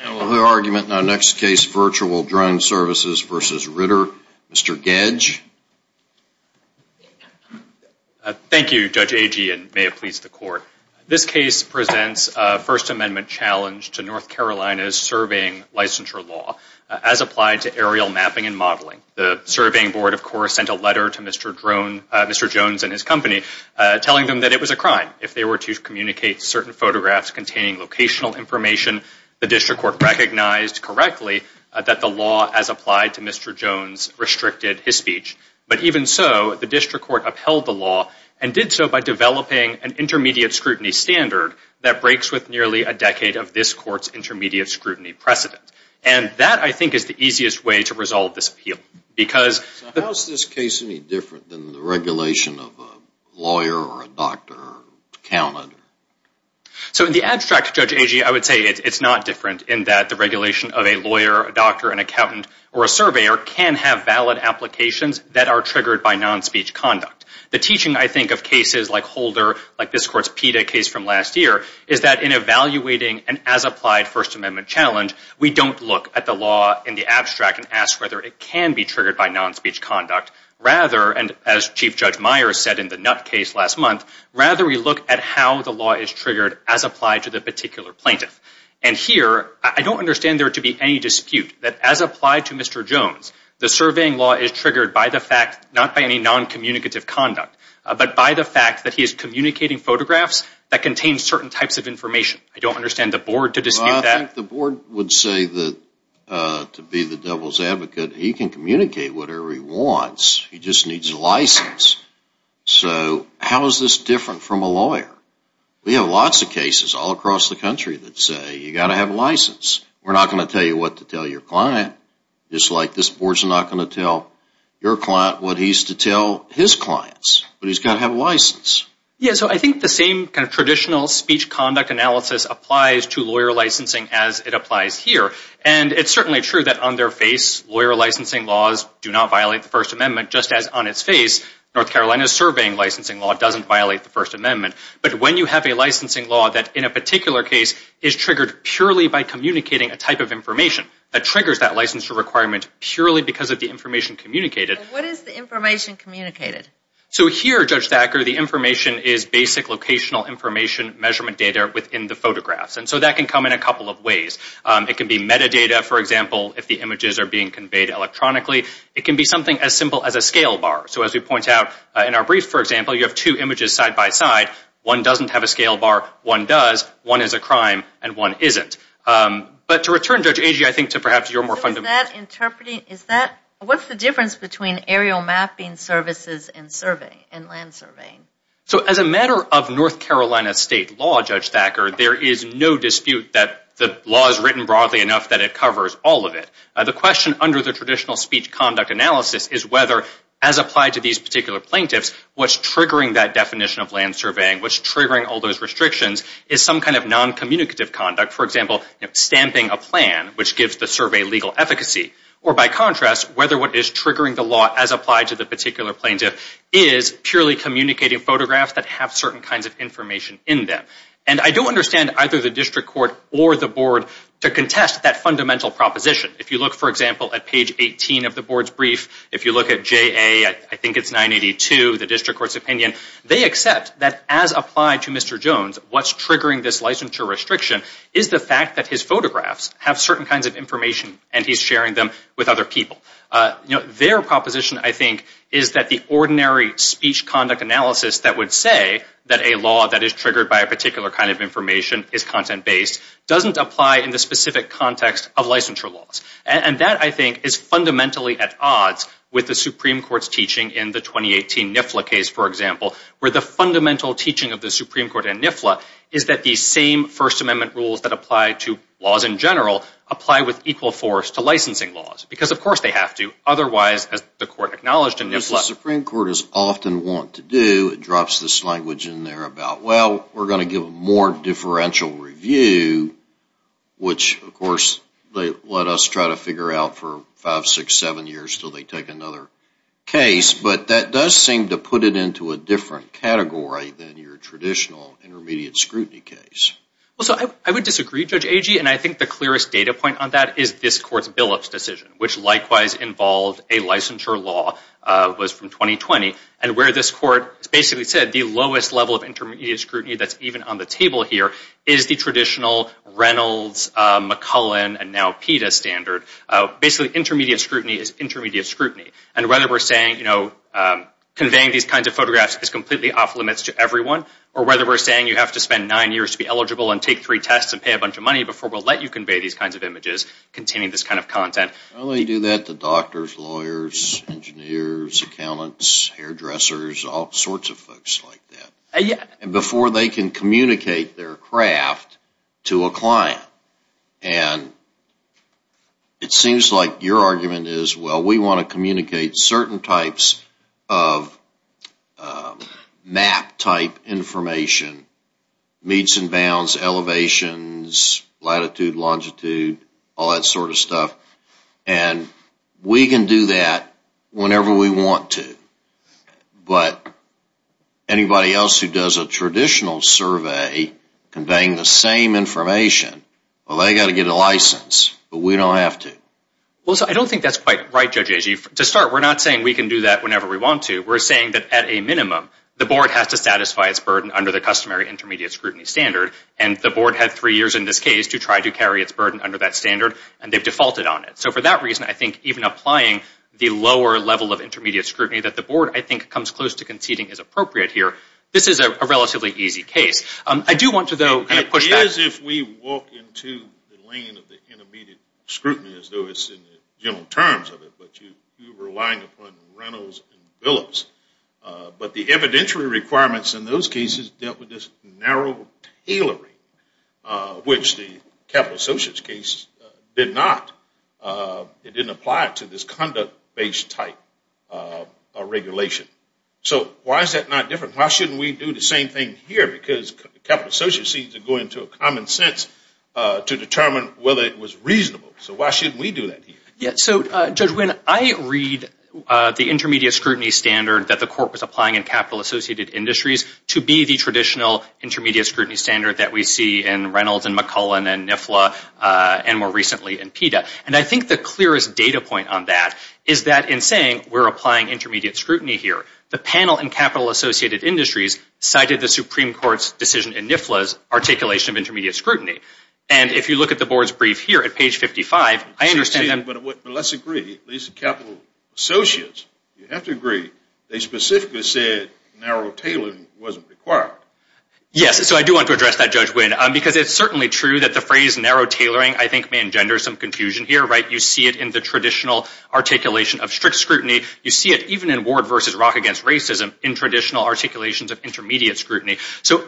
Another argument in our next case, Virtual Drone Services v. Ritter, Mr. Gedge. Thank you, Judge Agee, and may it please the Court. This case presents a First Amendment challenge to North Carolina's surveying licensure law, as applied to aerial mapping and modeling. The surveying board, of course, sent a letter to Mr. Jones and his company telling them that it was a crime if they were to communicate certain photographs containing locational information. The district court recognized correctly that the law, as applied to Mr. Jones, restricted his speech. But even so, the district court upheld the law and did so by developing an intermediate scrutiny standard that breaks with nearly a decade of this Court's intermediate scrutiny precedent. And that, I think, is the easiest way to resolve this appeal. How is this case any different than the regulation of a lawyer or a doctor counted? So in the abstract, Judge Agee, I would say it's not different in that the regulation of a lawyer, a doctor, an accountant, or a surveyor can have valid applications that are triggered by non-speech conduct. The teaching, I think, of cases like Holder, like this Court's PETA case from last year, is that in evaluating an as-applied First Amendment challenge, we don't look at the law in the abstract and ask whether it can be triggered by non-speech conduct. Rather, and as Chief Judge Myers said in the Nutt case last month, rather we look at how the law is triggered as applied to the particular plaintiff. And here, I don't understand there to be any dispute that as applied to Mr. Jones, the surveying law is triggered by the fact, not by any non-communicative conduct, but by the fact that he is communicating photographs that contain certain types of information. I don't understand the Board to dispute that. Well, I think the Board would say that to be the devil's advocate, he can communicate whatever he wants. He just needs a license. So how is this different from a lawyer? We have lots of cases all across the country that say you've got to have a license. We're not going to tell you what to tell your client. Just like this Board's not going to tell your client what he's to tell his clients. But he's got to have a license. Yeah, so I think the same kind of traditional speech conduct analysis applies to lawyer licensing as it applies here. And it's certainly true that on their face, lawyer licensing laws do not violate the First Amendment, just as on its face, North Carolina's surveying licensing law doesn't violate the First Amendment. But when you have a licensing law that in a particular case is triggered purely by communicating a type of information that triggers that licensure requirement purely because of the information communicated. What is the information communicated? So here, Judge Thacker, the information is basic locational information measurement data within the photographs. And so that can come in a couple of ways. It can be metadata, for example, if the images are being conveyed electronically. It can be something as simple as a scale bar. So as we point out in our brief, for example, you have two images side-by-side. One doesn't have a scale bar, one does. One is a crime, and one isn't. But to return, Judge Agee, I think to perhaps your more fundamental question. What's the difference between aerial mapping services and land surveying? So as a matter of North Carolina state law, Judge Thacker, there is no dispute that the law is written broadly enough that it covers all of it. The question under the traditional speech conduct analysis is whether, as applied to these particular plaintiffs, what's triggering that definition of land surveying, what's triggering all those restrictions is some kind of noncommunicative conduct. For example, stamping a plan, which gives the survey legal efficacy. Or by contrast, whether what is triggering the law, as applied to the particular plaintiff, is purely communicating photographs that have certain kinds of information in them. And I don't understand either the district court or the board to contest that fundamental proposition. If you look, for example, at page 18 of the board's brief, if you look at JA, I think it's 982, the district court's opinion, they accept that as applied to Mr. Jones, what's triggering this licensure restriction is the fact that his photographs have certain kinds of information and he's sharing them with other people. Their proposition, I think, is that the ordinary speech conduct analysis that would say that a law that is triggered by a particular kind of information is content-based, doesn't apply in the specific context of licensure laws. And that, I think, is fundamentally at odds with the Supreme Court's teaching in the 2018 NIFLA case, for example, where the fundamental teaching of the Supreme Court and NIFLA is that these same First Amendment rules that apply to laws in general apply with equal force to licensing laws. Because, of course, they have to. Otherwise, as the Court acknowledged in NIFLA... What the Supreme Court is often wont to do, it drops this language in there about, well, we're going to give a more differential review, which, of course, they let us try to figure out for five, six, seven years until they take another case. But that does seem to put it into a different category than your traditional intermediate scrutiny case. Well, so I would disagree, Judge Agee, and I think the clearest data point on that is this Court's Billups decision, which likewise involved a licensure law, was from 2020, and where this Court basically said that the lowest level of intermediate scrutiny that's even on the table here is the traditional Reynolds, McCullen, and now PETA standard. Basically, intermediate scrutiny is intermediate scrutiny. And whether we're saying conveying these kinds of photographs is completely off-limits to everyone, or whether we're saying you have to spend nine years to be eligible and take three tests and pay a bunch of money before we'll let you convey these kinds of images containing this kind of content... Well, they do that to doctors, lawyers, engineers, accountants, hairdressers, all sorts of folks like that, before they can communicate their craft to a client. And it seems like your argument is, well, we want to communicate certain types of map-type information, meets and bounds, elevations, latitude, longitude, all that sort of stuff, and we can do that whenever we want to. But anybody else who does a traditional survey conveying the same information, well, they've got to get a license, but we don't have to. Well, so I don't think that's quite right, Judge Agee. To start, we're not saying we can do that whenever we want to. We're saying that, at a minimum, the Board has to satisfy its burden under the customary intermediate scrutiny standard, and the Board had three years in this case to try to carry its burden under that standard, and they've defaulted on it. So for that reason, I think even applying the lower level of intermediate scrutiny that the Board, I think, comes close to conceding is appropriate here, this is a relatively easy case. I do want to, though, kind of push that. It is if we walk into the lane of the intermediate scrutiny as though it's in the general terms of it, but you're relying upon Reynolds and Willis. But the evidentiary requirements in those cases dealt with this narrow tailoring, which the capital associates case did not. It didn't apply to this conduct-based type of regulation. So why is that not different? Why shouldn't we do the same thing here? Because capital associates seems to go into a common sense to determine whether it was reasonable. So why shouldn't we do that here? Yeah, so, Judge Winn, I read the intermediate scrutiny standard that the Court was applying in capital-associated industries to be the traditional intermediate scrutiny standard that we see in Reynolds and McCullen and NIFLA and more recently in PETA. And I think the clearest data point on that is that in saying we're applying intermediate scrutiny here, the panel in capital-associated industries cited the Supreme Court's decision in NIFLA's articulation of intermediate scrutiny. And if you look at the Board's brief here at page 55, I understand that... But let's agree, these capital associates, you have to agree, they specifically said narrow tailoring wasn't required. Yes, so I do want to address that, Judge Winn, because it's certainly true that the phrase narrow tailoring I think may engender some confusion here, right? You see it in the traditional articulation of strict scrutiny. You see it even in Ward v. Rock v. Racism in traditional articulations of intermediate scrutiny. So,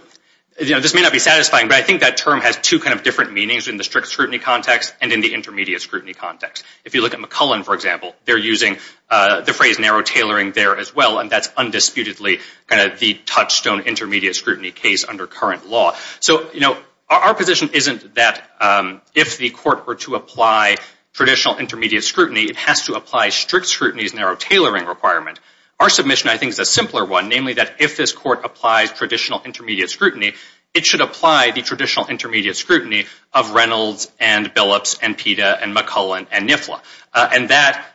you know, this may not be satisfying, but I think that term has two kind of different meanings in the strict scrutiny context and in the intermediate scrutiny context. If you look at McCullen, for example, they're using the phrase narrow tailoring there as well, and that's undisputedly kind of the touchstone intermediate scrutiny case under current law. So, you know, our position isn't that if the court were to apply traditional intermediate scrutiny, it has to apply strict scrutiny's narrow tailoring requirement. Our submission, I think, is a simpler one, namely that if this court applies traditional intermediate scrutiny, it should apply the traditional intermediate scrutiny of Reynolds and Billups and PETA and McCullen and NIFLA. And that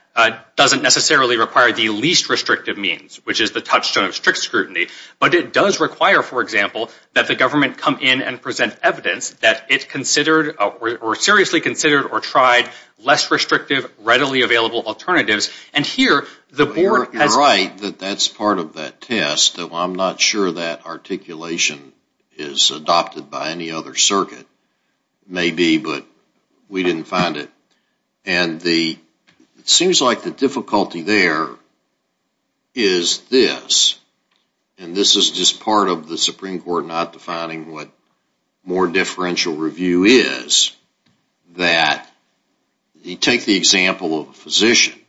doesn't necessarily require the least restrictive means, which is the touchstone of strict scrutiny, but it does require, for example, that the government come in and present evidence that it considered or seriously considered or tried less restrictive, readily available alternatives. And here, the board has... You're right that that's part of that test, though I'm not sure that articulation is adopted by any other circuit. Maybe, but we didn't find it. And it seems like the difficulty there is this, and this is just part of the Supreme Court not defining what more differential review is, that you take the example of a physician.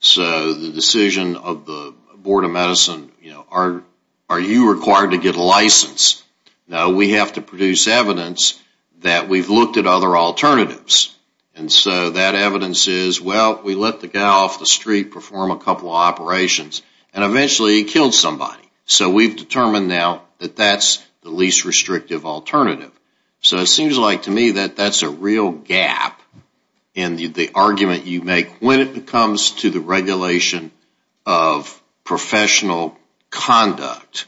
So the decision of the Board of Medicine, you know, are you required to get a license? No, we have to produce evidence that we've looked at other alternatives. And so that evidence is, well, we let the guy off the street perform a couple of operations, and eventually he killed somebody. So we've determined now that that's the least restrictive alternative. So it seems like to me that that's a real gap in the argument you make when it comes to the regulation of professional conduct.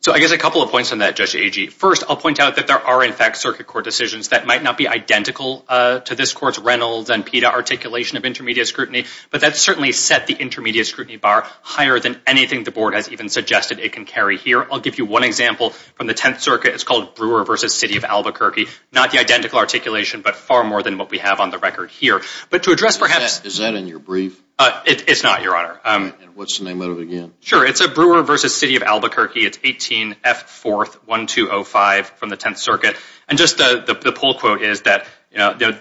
So I guess a couple of points on that, Judge Agee. First, I'll point out that there are, in fact, that might not be identical to this Court's Reynolds and Pita articulation of intermediate scrutiny, but that's certainly set the intermediate scrutiny bar higher than anything the Board has even suggested it can carry here. I'll give you one example from the Tenth Circuit. It's called Brewer v. City of Albuquerque. Not the identical articulation, but far more than what we have on the record here. But to address perhaps... Is that in your brief? It's not, Your Honor. And what's the name of it again? Sure, it's a Brewer v. City of Albuquerque. It's 18F4-1205 from the Tenth Circuit. And just the poll quote is that,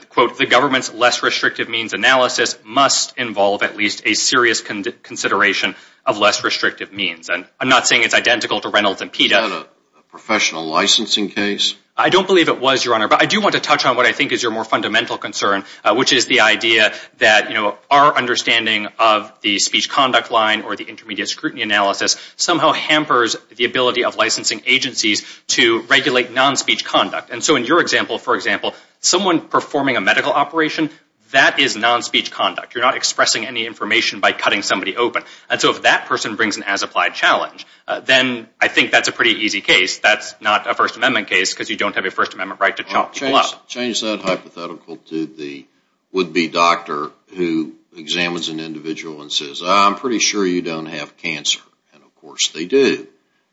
quote, the government's less restrictive means analysis must involve at least a serious consideration of less restrictive means. And I'm not saying it's identical to Reynolds and Pita. Is that a professional licensing case? I don't believe it was, Your Honor. But I do want to touch on what I think is your more fundamental concern, which is the idea that our understanding of the speech conduct line or the intermediate scrutiny analysis somehow hampers the ability of licensing agencies to regulate non-speech conduct. And so in your example, for example, someone performing a medical operation, that is non-speech conduct. You're not expressing any information by cutting somebody open. And so if that person brings an as-applied challenge, then I think that's a pretty easy case. That's not a First Amendment case because you don't have a First Amendment right to chop people up. Change that hypothetical to the would-be doctor who examines an individual and says, I'm pretty sure you don't have cancer. And of course they do.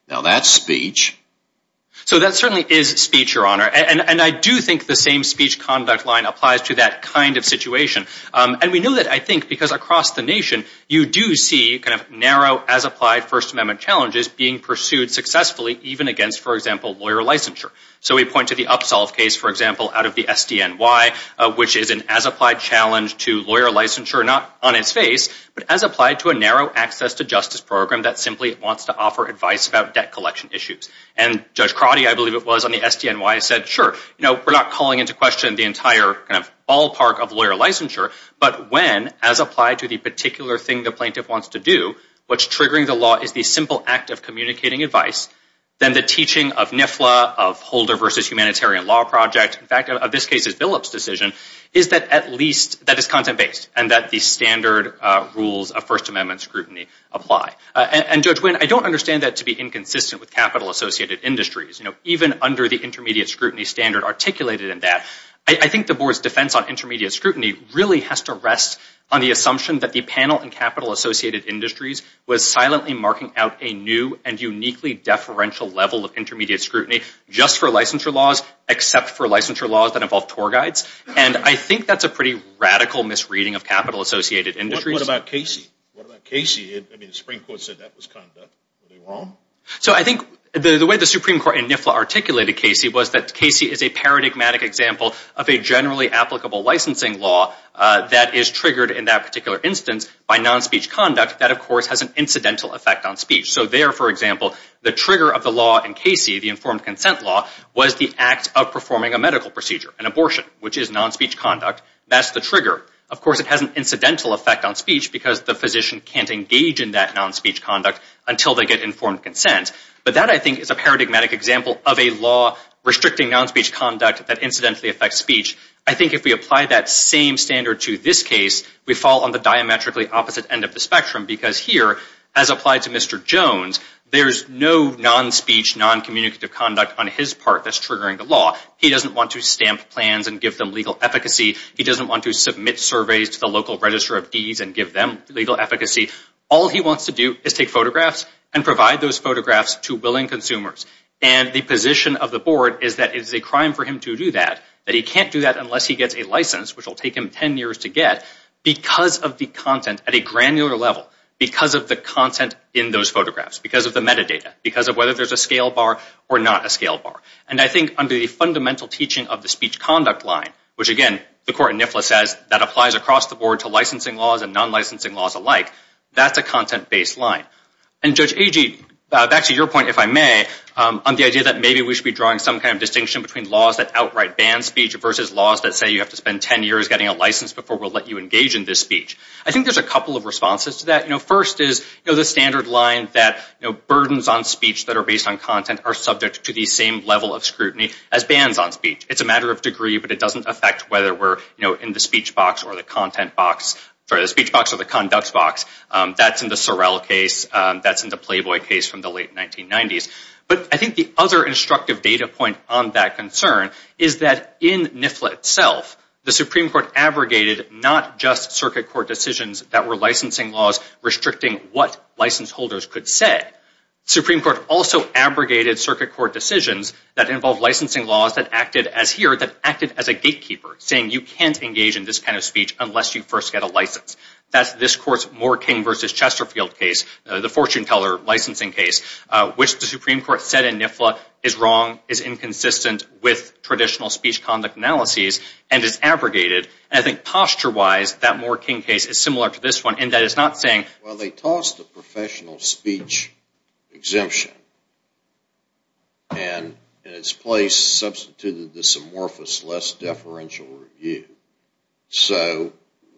Now that's speech. So that certainly is speech, Your Honor. And I do think the same speech conduct line applies to that kind of situation. And we know that, I think, because across the nation, you do see kind of narrow as-applied First Amendment challenges being pursued successfully even against, for example, lawyer licensure. So we point to the Upsolve case, for example, out of the SDNY, which is an as-applied challenge to lawyer licensure, not on its face, but as applied to a narrow access to justice program that simply wants to offer advice about debt collection issues. And Judge Crotty, I believe it was, on the SDNY, said, sure, we're not calling into question the entire kind of ballpark of lawyer licensure, but when, as applied to the particular thing the plaintiff wants to do, what's triggering the law is the simple act of communicating advice, then the teaching of NIFLA, of Holder v. Humanitarian Law Project, in fact, of this case's Billups decision, is that at least that is content-based and that the standard rules of First Amendment scrutiny apply. And Judge Wynn, I don't understand that to be inconsistent with capital-associated industries. Even under the intermediate scrutiny standard articulated in that, I think the Board's defense on intermediate scrutiny really has to rest on the assumption that the panel in capital-associated industries was silently marking out a new and uniquely deferential level of intermediate scrutiny just for licensure laws, except for licensure laws that involve tour guides. And I think that's a pretty radical misreading of capital-associated industries. What about Casey? The Supreme Court said that was conduct. Were they wrong? The way the Supreme Court in NIFLA articulated Casey was that Casey is a paradigmatic example of a generally applicable licensing law that is triggered in that particular instance by non-speech conduct that, of course, has an incidental effect on speech. So there, for example, the trigger of the law in Casey, the informed consent law, was the act of performing a medical procedure, an abortion, which is non-speech conduct. That's the trigger. Of course, it has an incidental effect on speech because the physician can't engage in that non-speech conduct until they get informed consent. But that, I think, is a paradigmatic example of a law restricting non-speech conduct that incidentally affects speech. I think if we apply that same standard to this case, we fall on the diametrically opposite end of the spectrum because here, as applied to Mr. Jones, there's no non-speech, non-communicative conduct on his part that's triggering the law. He doesn't want to stamp plans and give them legal efficacy. He doesn't want to submit surveys to the local register of deeds and give them legal efficacy. All he wants to do is take photographs and provide those photographs to willing consumers. And the position of the board is that it is a crime for him to do that, that he can't do that unless he gets a license, which will take him 10 years to get, because of the content at a granular level, because of the content in those photographs, because of the metadata, because of whether there's a scale bar or not a scale bar. And I think under the fundamental teaching of the speech conduct line, which again, the court in NIFLA says that applies across the board to licensing laws and non-licensing laws alike, that's a content-based line. And Judge Agee, back to your point, if I may, on the idea that maybe we should be drawing some kind of distinction between laws that outright ban speech versus laws that say you have to spend 10 years getting a license before we'll let you engage in this speech. I think there's a couple of responses to that. First is the standard line that we're subject to the same level of scrutiny as bans on speech. It's a matter of degree, but it doesn't affect whether we're, you know, in the speech box or the content box, sorry, the speech box or the conduct box. That's in the Sorrell case. That's in the Playboy case from the late 1990s. But I think the other instructive data point on that concern is that in NIFLA itself, the Supreme Court abrogated not just circuit court decisions that were licensing laws restricting what license holders could say. The Supreme Court also abrogated circuit court decisions that involve licensing laws that acted as here, that acted as a gatekeeper, saying you can't engage in this kind of speech unless you first get a license. That's this Court's Moore-King v. Chesterfield case, the fortune teller licensing case, which the Supreme Court said in NIFLA is wrong, is inconsistent with traditional speech conduct analyses, and is abrogated. And I think posture-wise, that Moore-King case is similar to this one in that it's not saying, well, they tossed a professional speech exemption and in its place substituted this amorphous less-deferential review. So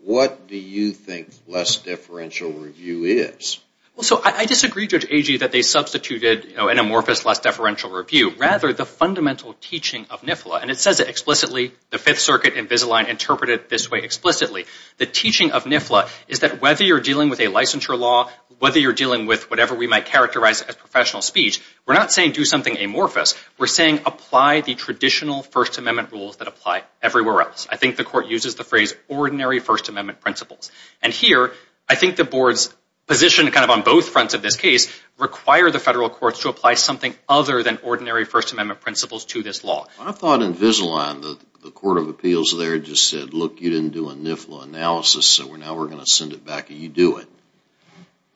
what do you think less-deferential review is? Well, so I disagree, Judge Agee, that they substituted an amorphous less-deferential review. Rather, the fundamental teaching of NIFLA, and it says it explicitly, the Fifth Circuit and Visalign interpret it this way explicitly. The teaching of a licensure law, whether you're dealing with whatever we might characterize as professional speech, we're not saying do something amorphous. We're saying apply the traditional First Amendment rules that apply everywhere else. I think the Court uses the phrase ordinary First Amendment principles. And here, I think the Board's position kind of on both fronts of this case require the Federal Courts to apply something other than ordinary First Amendment principles to this law. I thought in Visalign the Court of Appeals there just said, look, you didn't do a NIFLA analysis, so now we're going to send it back and you do it.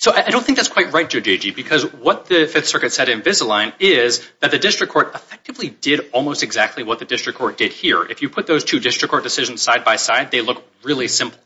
So I don't think that's quite right, Judge Agee, because what the Fifth Circuit said in Visalign is that the District Court effectively did almost exactly what the District Court did here. If you put those two District Court decisions side-by-side, they look really similar.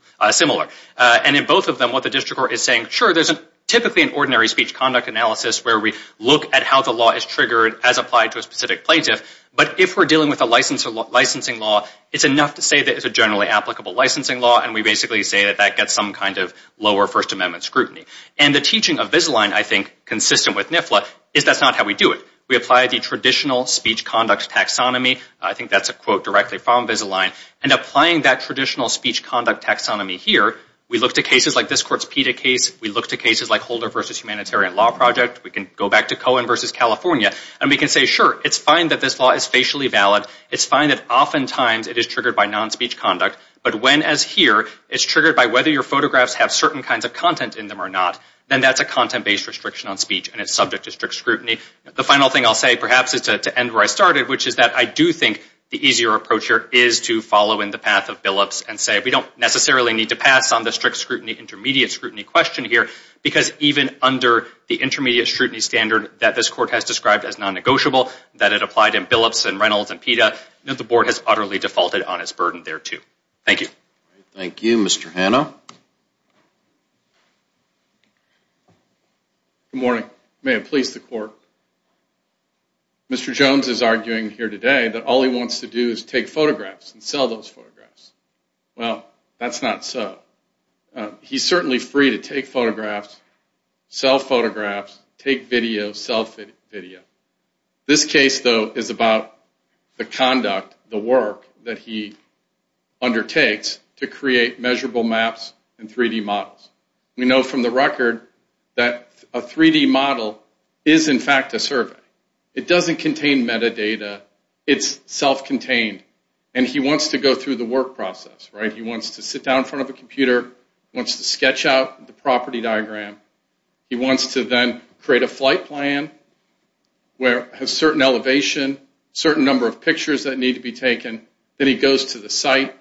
And in both of them, what the District Court is saying, sure, there's typically an ordinary speech conduct analysis where we look at how the law is triggered as applied to a specific plaintiff, but if we're dealing with a licensing law, it's enough to say that it's a generally applicable licensing law, and we basically say that that gets some kind of lower First Amendment scrutiny. And the teaching of Visalign, I think, consistent with NIFLA, is that's not how we do it. We apply the traditional speech conduct taxonomy, I think that's a quote directly from Visalign, and applying that traditional speech conduct taxonomy here, we look to cases like this Court's PETA case, we look to cases like Holder v. Humanitarian Law Project, we can go back to Cohen v. California, and we can say, sure, it's fine that this law is facially valid, it's fine that oftentimes it is triggered by non-speech conduct, but when, as here, it's triggered by whether your photographs have certain kinds of content in them or not, then that's a content-based restriction on speech, and it's subject to strict scrutiny. The final thing I'll say, perhaps, is to end where I started, which is that I do think the easier approach here is to follow in the path of Billups and say, we don't necessarily need to pass on the strict scrutiny, intermediate scrutiny question here, because even under the intermediate scrutiny standard that this Court has described as non-negotiable, that it applied in Billups and Reynolds and PETA, that the Board has utterly defaulted on its burden thereto. Thank you. Thank you. Mr. Hanno. Good morning. May it please the Court, Mr. Jones is arguing here today that all he wants to do is take photographs and sell those photographs. Well, that's not so. He's certainly free to take photographs, sell photographs, take videos, sell video. This case, though, is about the conduct, the work, that he undertakes to create measurable maps and 3-D models. We know from the record that a 3-D model is, in fact, a survey. It doesn't contain metadata. It's self-contained. And he wants to go through the work process, right? He wants to sit down in front of a computer, wants to sketch out the property diagram. He wants to then create a data plan where a certain elevation, certain number of pictures that need to be taken. Then he goes to the site.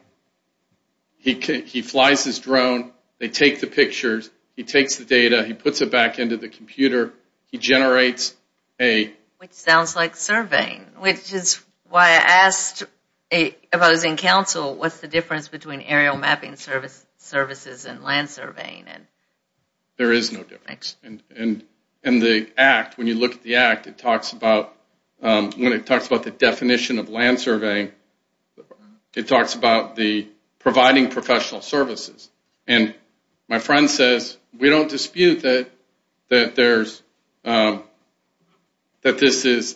He flies his drone. They take the pictures. He takes the data. He puts it back into the computer. He generates a... Which sounds like surveying, which is why I asked if I was in council, what's the difference between aerial mapping services and land surveying? There is no difference. And the act, when you look at the act, it talks about... When it talks about the definition of land surveying, it talks about the providing professional services. And my friend says, we don't dispute that there's... that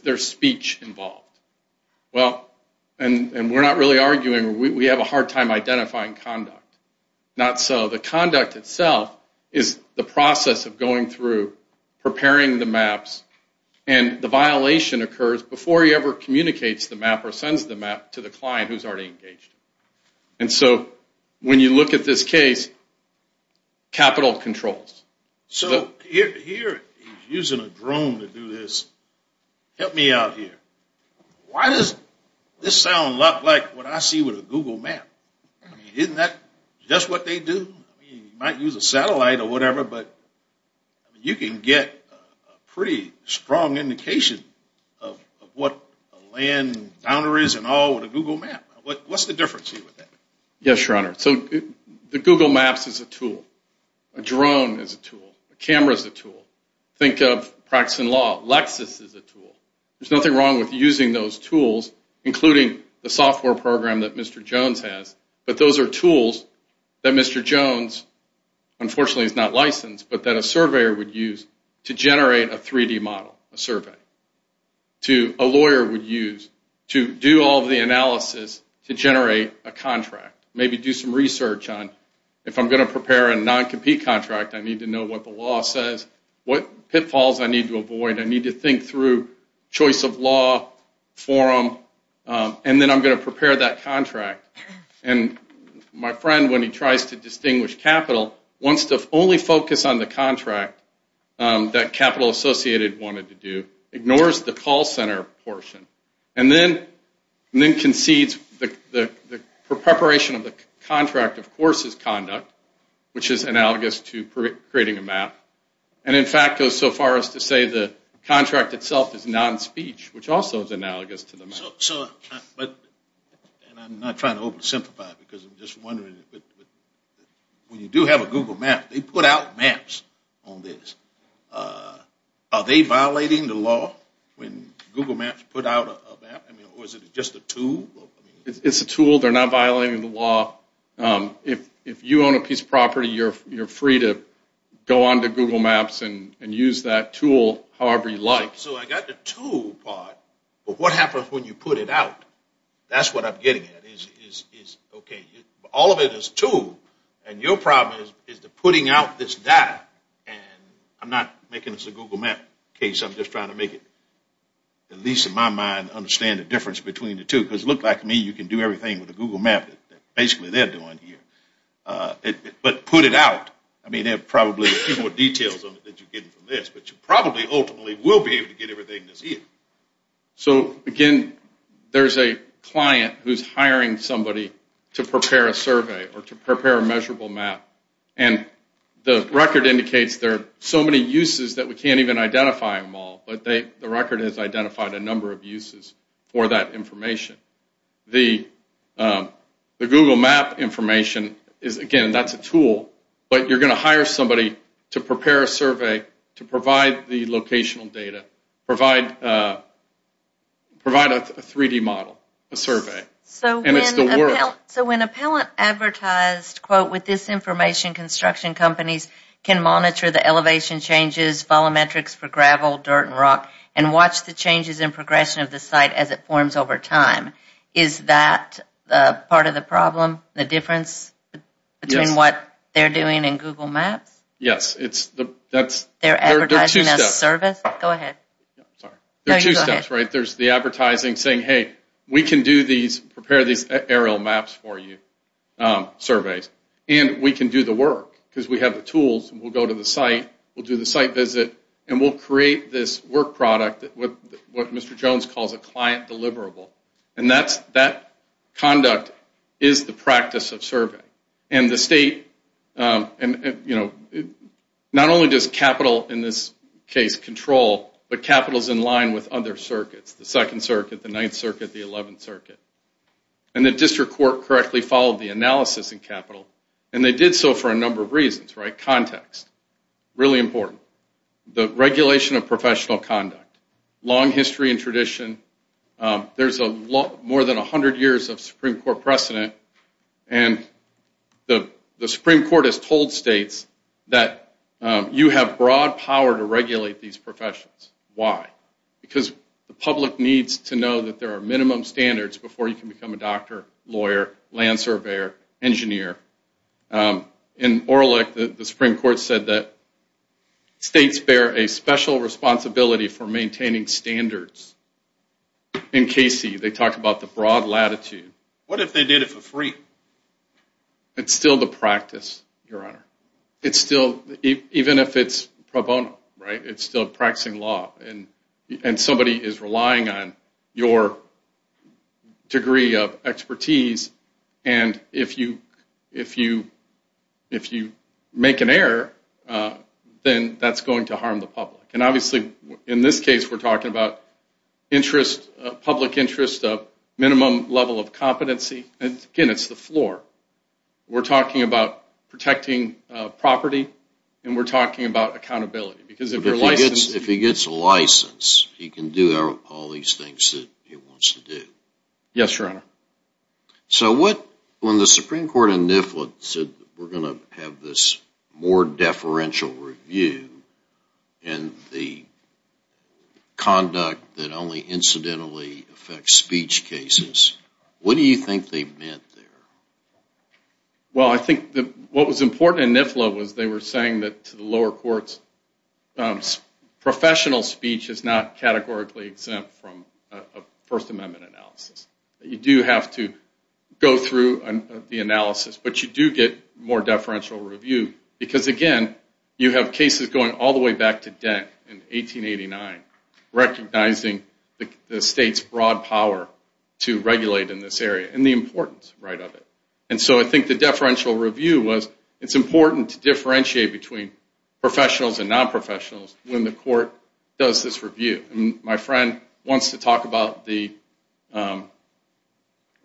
there's speech involved. Well, and we're not really arguing. We have a hard time identifying conduct. Not so the conduct itself is the process of going through preparing the maps and the violation occurs before he ever communicates the map or sends the map to the client who's already engaged. And so when you look at this case, capital controls. So here he's using a drone to do this. Help me out here. Why does this sound a lot like what I see with a Google map? Isn't that just what they do? You might use a satellite or whatever, but you can get a pretty strong indication of what a land boundary is and all with a Google map. What's the difference here with that? Yes, Your Honor. So the Google maps is a tool. A drone is a tool. A camera is a tool. Think of practicing law. Lexis is a tool. There's nothing wrong with using those tools, including the software program that Mr. Jones has, but those are tools that Mr. Jones unfortunately is not licensed, but that a surveyor would use to generate a 3D model, a survey. A lawyer would use to do all the analysis to generate a contract. Maybe do some research on if I'm going to prepare a non-compete contract, I need to know what the law says, what pitfalls I need to avoid. I need to think through choice of law, forum, and then I'm going to prepare that contract. And my friend, when he tries to distinguish capital, wants to only focus on the contract that Capital Associated wanted to do, ignores the call center portion, and then concedes the preparation of the contract, of course, is conduct, which is analogous to creating a map, and in fact goes so far as to say the contract itself is non-speech, which also is analogous to the map. I'm not trying to oversimplify because I'm just wondering, when you do have a Google Map, they put out maps on this. Are they violating the law when Google Maps put out a map, or is it just a tool? It's a tool. They're not violating the law. If you own a piece of property, you're free to go on to Google Maps and use that tool however you like. So I got the tool part, but what happens when you put it out? That's what I'm getting at. All of it is tool, and your problem is the putting out this data, and I'm not making this a Google Map case. I'm just trying to make it, at least in my mind, understand the difference between the two, because it looks like to me you can do everything with a Google Map that basically they're doing here, but put it out. I mean, there are probably a few more details on it that you're getting from this, but you will be able to get everything that's here. So, again, there's a client who's hiring somebody to prepare a survey or to prepare a measurable map, and the record indicates there are so many uses that we can't even identify them all, but the record has identified a number of uses for that information. The Google Map information is, again, that's a tool, but you're going to hire somebody to prepare a survey to provide the locational data, provide a 3D model, a survey, and it's the work. So when appellant advertised quote, with this information construction companies can monitor the elevation changes, follow metrics for gravel, dirt, and rock, and watch the changes in progression of the site as it forms over time, is that part of the problem, the difference between what they're doing in Google Maps? Yes. They're advertising a service? Go ahead. There's the advertising saying, hey, we can do these, prepare these aerial maps for you, surveys, and we can do the work because we have the tools, and we'll go to the site, we'll do the site visit, and we'll create this work product with what Mr. Jones calls a client deliverable, and that's that conduct is the practice of surveying, and the not only does capital in this case control, but capital's in line with other circuits, the second circuit, the ninth circuit, the eleventh circuit, and the district court correctly followed the analysis in capital, and they did so for a number of reasons, right, context, really important, the regulation of professional conduct, long history and tradition, there's more than 100 years of Supreme Court precedent, and the that you have broad power to regulate these professions. Why? Because the public needs to know that there are minimum standards before you can become a doctor, lawyer, land surveyor, engineer. In Orlick, the Supreme Court said that states bear a special responsibility for maintaining standards. In Casey, they talked about the broad latitude. What if they did it for free? It's still the practice, Your Honor. It's still, even if it's pro bono, right, it's still practicing law, and somebody is relying on your degree of expertise, and if you make an error, then that's going to harm the public. And obviously in this case, we're talking about interest, public interest of minimum level of competency, and again, it's the floor. We're talking about protecting property, and we're talking about accountability. If he gets a license, he can do all these things that he wants to do. Yes, Your Honor. When the Supreme Court in Nifflin said that we're going to have this more deferential review, and the conduct that only incidentally affects speech cases, what do you think they meant there? Well, I think what was important in Nifflin was they were saying that to the lower courts, professional speech is not categorically exempt from a First Amendment analysis. You do have to go through the analysis, but you do get more deferential review, because again, you have cases going all the way back to Dent in 1889, recognizing the state's broad power to regulate in this area, and the importance of it. I think the deferential review was it's important to differentiate between professionals and non-professionals when the court does this review. My friend wants to talk about the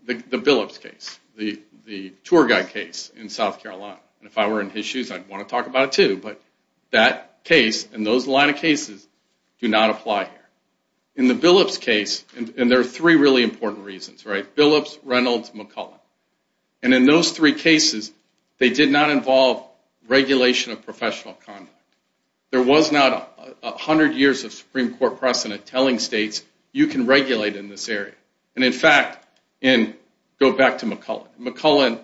Billups case, the Tour Guide case in South Carolina. If I were in his shoes, I'd want to talk about it too, but that case and those line of cases do not apply here. In the Billups case, and there are three really important reasons, right? Billups, Reynolds, McCullen. And in those three cases, they did not involve regulation of professional conduct. There was not a hundred years of Supreme Court precedent telling states you can regulate in this area. And in fact, go back to McCullen,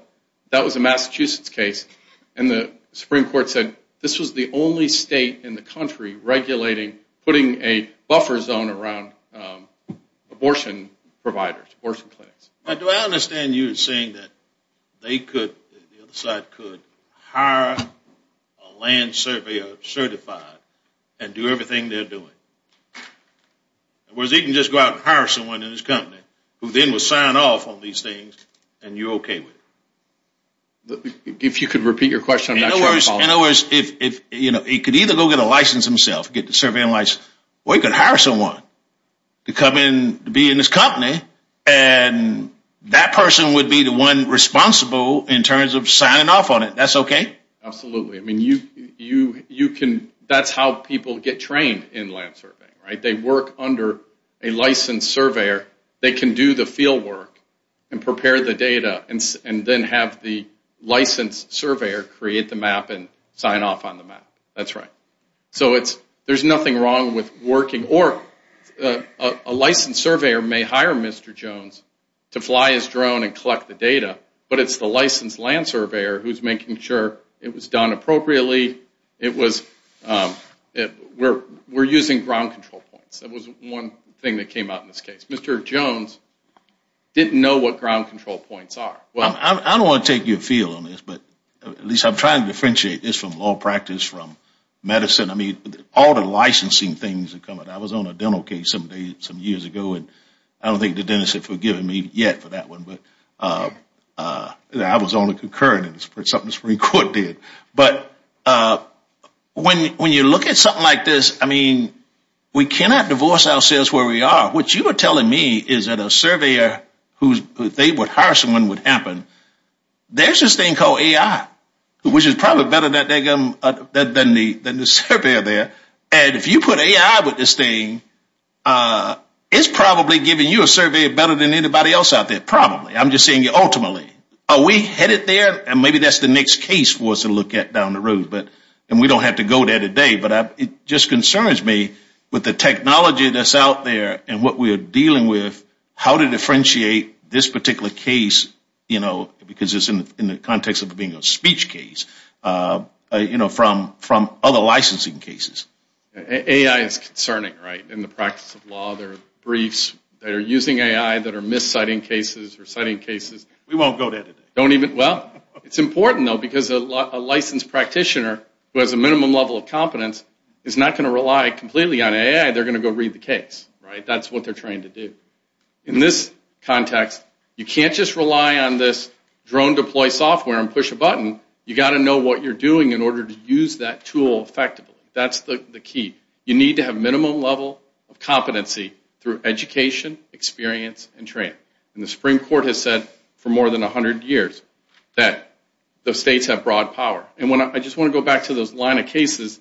that was a Massachusetts case, and the Supreme Court said this was the only state in the country regulating, putting a buffer zone around abortion providers, abortion clinics. Do I understand you saying that they could, the other side could, hire a land surveyor certified and do everything they're doing? Whereas he can just go out and hire someone in his company who then will sign off on these things and you're okay with it? If you could repeat your question, I'm not sure I'm following. In other words, he could either go get a license himself, or he could hire someone to be in his company and that person would be the one responsible in terms of signing off on it. That's okay? Absolutely. That's how people get trained in land surveying. They work under a licensed surveyor. They can do the field work and prepare the data and then have the licensed surveyor create the map and sign off on the map. That's right. There's nothing wrong with working, or a licensed surveyor may hire Mr. Jones to fly his drone and collect the data, but it's the licensed land surveyor who's making sure it was done appropriately, it was, we're using ground control points. That was one thing that came out in this case. Mr. Jones didn't know what ground control points are. I don't want to take your feel on this, but at least I'm trying to differentiate this from law practice, from medicine, I mean, all the licensing things that come with it. I was on a dental case some years ago, and I don't think the dentists have forgiven me yet for that one, but I was on the concurrence for something the Supreme Court did, but when you look at something like this, I mean, we cannot divorce ourselves where we are. What you were telling me is that a surveyor who they would hire someone would happen, there's this thing called AI, which is probably better than the surveyor there, and if you put AI with this thing, it's probably giving you a surveyor better than anybody else out there, probably. I'm just saying ultimately. Are we headed there? And maybe that's the next case for us to look at down the road, but we don't have to go there today, but it just concerns me with the technology that's out there and what we're dealing with, how to differentiate this particular case, you know, because it's in the context of it being a speech case, you know, from other licensing cases. AI is concerning, right, in the practice of law. There are briefs that are using AI that are mis-citing cases or citing cases. We won't go there today. Well, it's important, though, because a licensed practitioner who has a minimum level of competence is not going to rely completely on AI. They're going to go read the statute. In this context, you can't just rely on this drone deploy software and push a button. You've got to know what you're doing in order to use that tool effectively. That's the key. You need to have a minimum level of competency through education, experience, and training. And the Supreme Court has said for more than 100 years that those states have broad power. And I just want to go back to those line of cases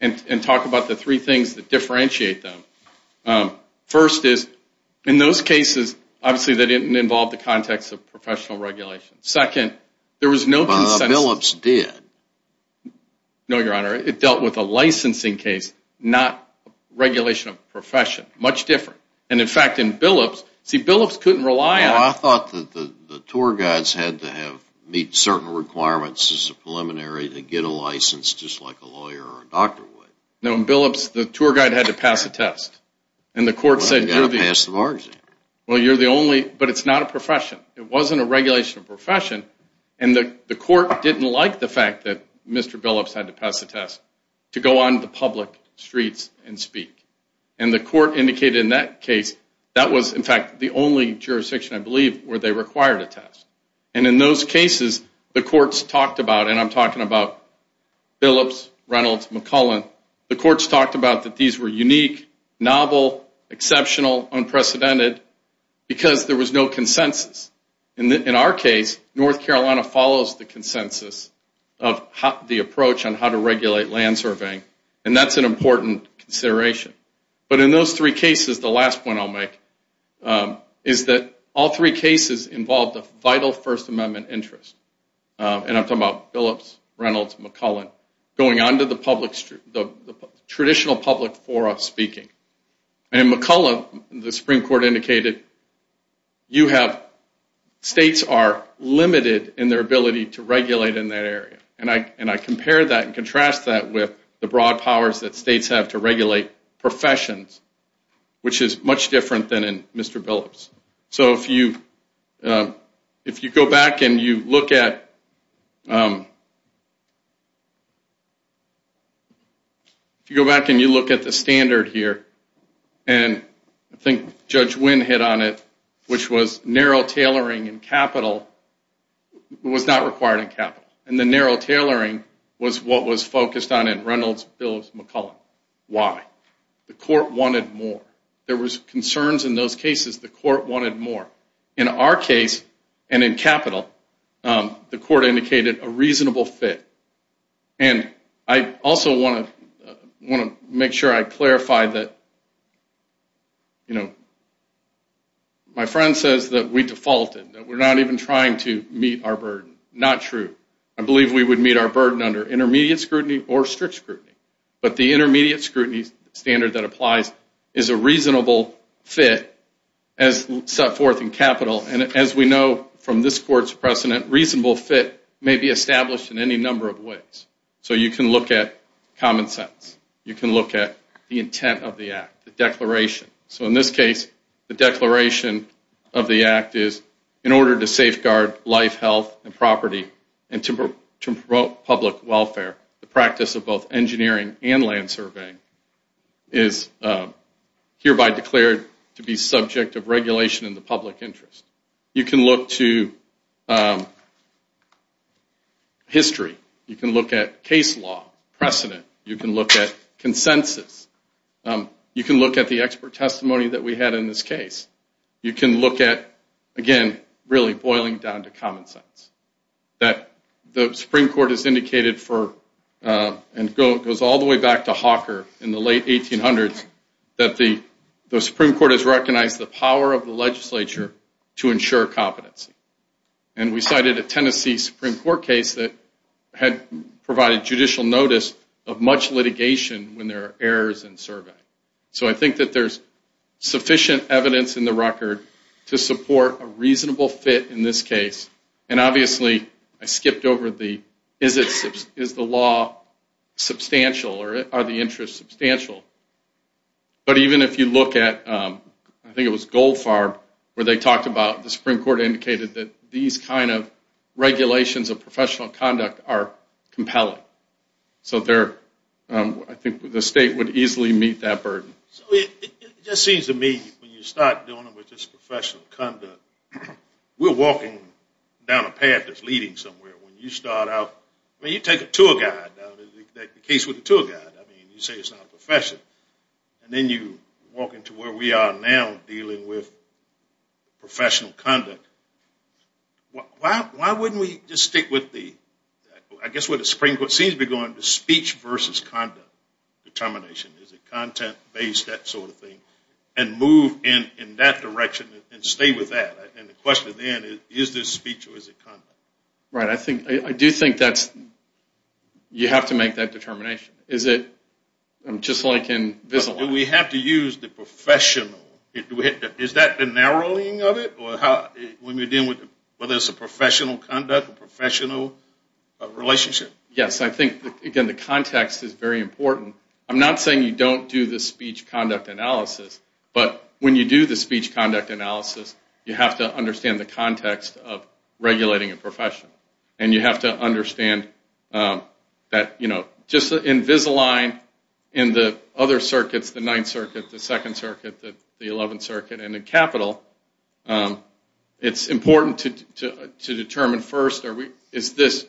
and talk about the three things that differentiate them. First is in those cases, obviously, they didn't involve the context of professional regulation. Second, there was no consensus. But Billups did. No, Your Honor. It dealt with a licensing case, not regulation of profession. Much different. And, in fact, in Billups, see Billups couldn't rely on it. Well, I thought that the tour guides had to have meet certain requirements as a preliminary to get a license just like a lawyer or a doctor would. No, in Billups, they had to pass the test. And the court said, Well, you're the only, but it's not a profession. It wasn't a regulation of profession. And the court didn't like the fact that Mr. Billups had to pass the test to go on the public streets and speak. And the court indicated in that case that was, in fact, the only jurisdiction I believe where they required a test. And in those cases, the courts talked about, and I'm talking about Billups, Reynolds, McCullen, the courts talked about that these were unique, novel, exceptional, unprecedented, because there was no consensus. In our case, North Carolina follows the consensus of the approach on how to regulate land surveying. And that's an important consideration. But in those three cases, the last point I'll make is that all three cases involved a vital First Amendment interest. And I'm talking about Billups, Reynolds, McCullen. Going on to the traditional public forum speaking. In McCullen, the Supreme Court indicated you have, states are limited in their ability to regulate in that area. And I compare that and contrast that with the broad powers that states have to regulate professions, which is much different than Mr. Billups. So if you go back and you look at the standard here, and I think Judge Wynn hit on it, which was narrow tailoring in capital was not required in capital. And the narrow tailoring was what was focused on in Reynolds, Billups, McCullen. Why? The court wanted more. There was concerns in those cases the court wanted more. In our case, and in capital, the court indicated a reasonable fit. And I also want to make sure I clarify that you know, my friend says that we defaulted, that we're not even trying to meet our burden. Not true. I believe we would meet our burden under intermediate scrutiny or strict scrutiny. But the intermediate scrutiny standard that applies is a reasonable fit as set forth in capital. And as we know from this court's precedent, reasonable fit may be established in any number of ways. So you can look at common sense. You can look at the intent of the act, the declaration. So in this case, the declaration of the act is in order to safeguard life, health, and property and to promote public welfare, the practice of both engineering and land surveying is hereby declared to be subject of regulation in the public interest. You can look to history. You can look at case law precedent. You can look at consensus. You can look at the expert testimony that we had in this case. You can look at, again, really boiling down to common sense. That the Supreme Court has indicated for, and goes all the way back to Hawker in the late 1800s, that the Supreme Court has recognized the power of the legislature to ensure competency. And we cited a Tennessee Supreme Court case that had provided judicial notice of much litigation when there are errors in survey. So I think that there's sufficient evidence in the record to support a reasonable fit in this case. And obviously, I skipped over the, is the law substantial or are the interests substantial? But even if you look at I think it was Goldfarb where they talked about the Supreme Court indicated that these kind of regulations of professional conduct are compelling. So they're, I think, the state would easily meet that burden. It just seems to me when you start dealing with this professional conduct, we're walking down a path that's leading somewhere when you start out, when you take a tour guide, the case with the tour guide, I mean, you say it's not a profession. And then you walk into where we are now dealing with professional conduct. Why wouldn't we just stick with the, I guess where the Supreme Court seems to be going, the speech versus conduct determination? Is it content-based, that sort of thing? And move in that direction and stay with that? And the question then is, is this speech or is it conduct? Right, I think, I do think that you have to make that determination. Is it just like in this law? Do we have to use the professional? Is that the narrowing of it? When we're dealing with whether it's a professional conduct, a professional relationship? Yes, I think, again, the context is very important. I'm not saying you don't do the speech conduct analysis, but when you do the speech conduct analysis, you have to understand the context of regulating a profession. And you have to understand that, you know, just in Visalign, in the other circuits, the Second Circuit, the Eleventh Circuit, and in Capital, it's important to determine first, is this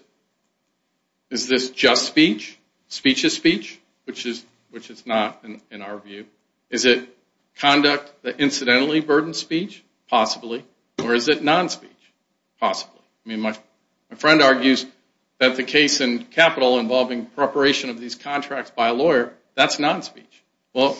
just speech? Speech is speech? Which it's not, in our view. Is it conduct that incidentally burdens speech? Possibly. Or is it non-speech? Possibly. I mean, my friend argues that the case in Capital involving preparation of these contracts by a lawyer, that's non-speech. Well,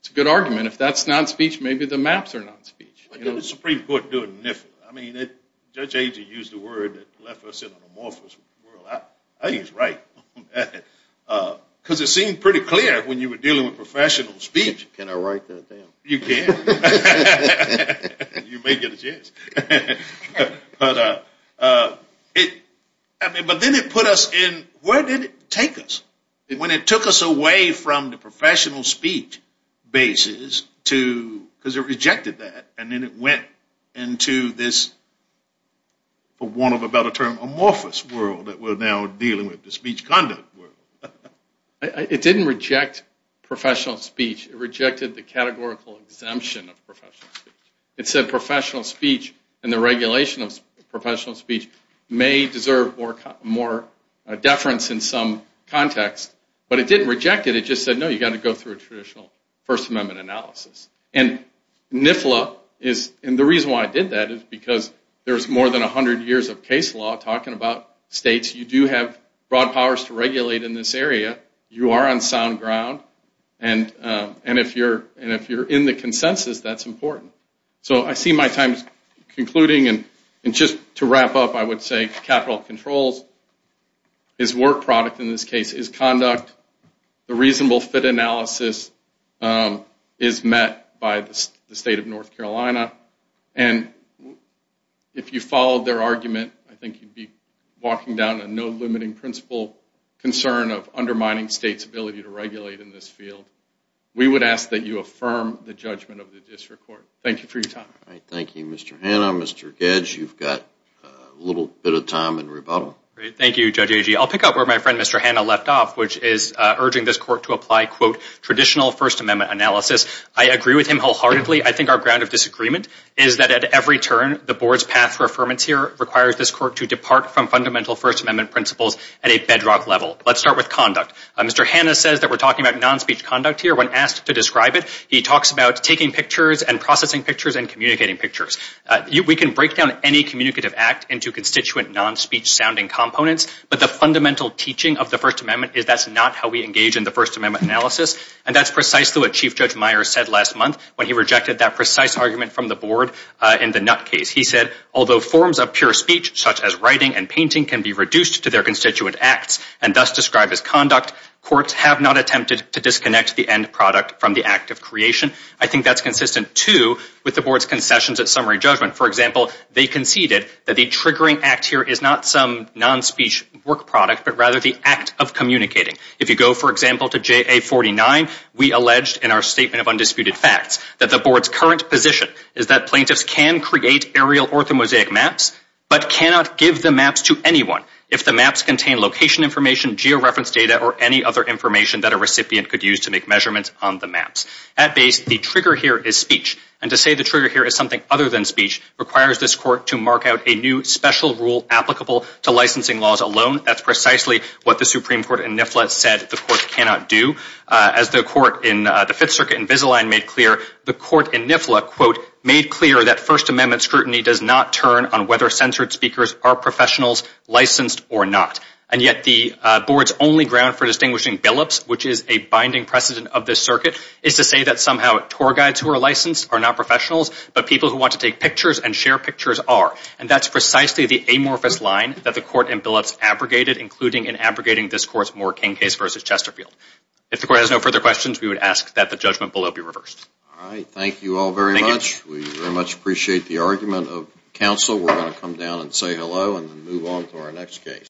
it's a good argument. If that's non-speech, maybe the maps are non-speech. What did the Supreme Court do in NIFA? I mean, Judge Agee used a word that left us in an amorphous world. I think he's right. Because it seemed pretty clear when you were dealing with professional speech. Can I write that down? You can. You may get a chance. But it, I mean, but then it put us in, where did it take us? When it took us away from the professional speech basis to, because it rejected that, and then it went into this for want of a better term, amorphous world that we're now dealing with, the speech conduct world. It didn't reject professional speech. It rejected the categorical exemption of professional speech. It said professional speech and the regulation of professional speech may deserve more deference in some context. But it didn't reject it. It just said, no, you've got to go through a traditional First Amendment analysis. And NIFA, and the reason why I did that is because there's more than 100 years of case law talking about states. You do have broad powers to regulate in this area. You are on sound ground. And if you're in the consensus, that's important. So I see my time concluding and just to wrap up, I would say capital controls is work product, in this case, is conduct. The reasonable fit analysis is met by the state of North Carolina. And if you followed their argument, I think you'd be walking down a no limiting principle concern of undermining states ability to regulate in this field. We would ask that you affirm the judgment of the district court. Thank you for your time. Thank you, Mr. Hanna. Mr. Hanna, you have a bit of time in rebuttal. Thank you, Judge Agee. I'll pick up where my friend, Mr. Hanna, left off, which is urging this court to apply, quote, traditional First Amendment analysis. I agree with him wholeheartedly. I think our ground of disagreement is that at every turn, the board's path for affirmance here requires this court to depart from fundamental First Amendment principles at a bedrock level. Let's start with conduct. Mr. Hanna says that we're talking about non-speech conduct here. When asked to describe it, he talks about taking pictures and processing pictures and communicating pictures. We can break down any communicative act into constituent non-speech sounding components, but the fundamental teaching of the First Amendment is that's not how we engage in the First Amendment analysis. And that's precisely what Chief Judge Meyer said last month when he rejected that precise argument from the board in the Nutt case. He said, although forms of pure speech, such as writing and painting, can be reduced to their constituent acts and thus described as to disconnect the end product from the act of creation. I think that's consistent, too, with the board's concessions at summary judgment. For example, they conceded that the triggering act here is not some non-speech work product, but rather the act of communicating. If you go, for example, to JA 49, we alleged in our Statement of Undisputed Facts that the board's current position is that plaintiffs can create aerial orthomosaic maps, but cannot give the maps to anyone if the maps contain location information, georeference data, or any other information that a recipient could use to make measurements on the maps. At the end of the day, the trigger here is speech. And to say the trigger here is something other than speech requires this court to mark out a new special rule applicable to licensing laws alone. That's precisely what the Supreme Court in NIFLA said the court cannot do. As the court in the Fifth Circuit in Visalign made clear, the court in NIFLA, quote, made clear that First Amendment scrutiny does not turn on whether censored speakers are professionals licensed or not. And yet the board's only ground for distinguishing billups, which is a binding precedent of this circuit, is to say that somehow tour guides who are licensed are not professionals, but people who want to take pictures and share pictures are. And that's precisely the amorphous line that the court in billups abrogated, including in abrogating this court's Moore-King case versus Chesterfield. If the court has no further questions, we would ask that the judgment below be reversed. Thank you all very much. We very much appreciate the argument of counsel. We're going to come down and say hello and move on to our next case.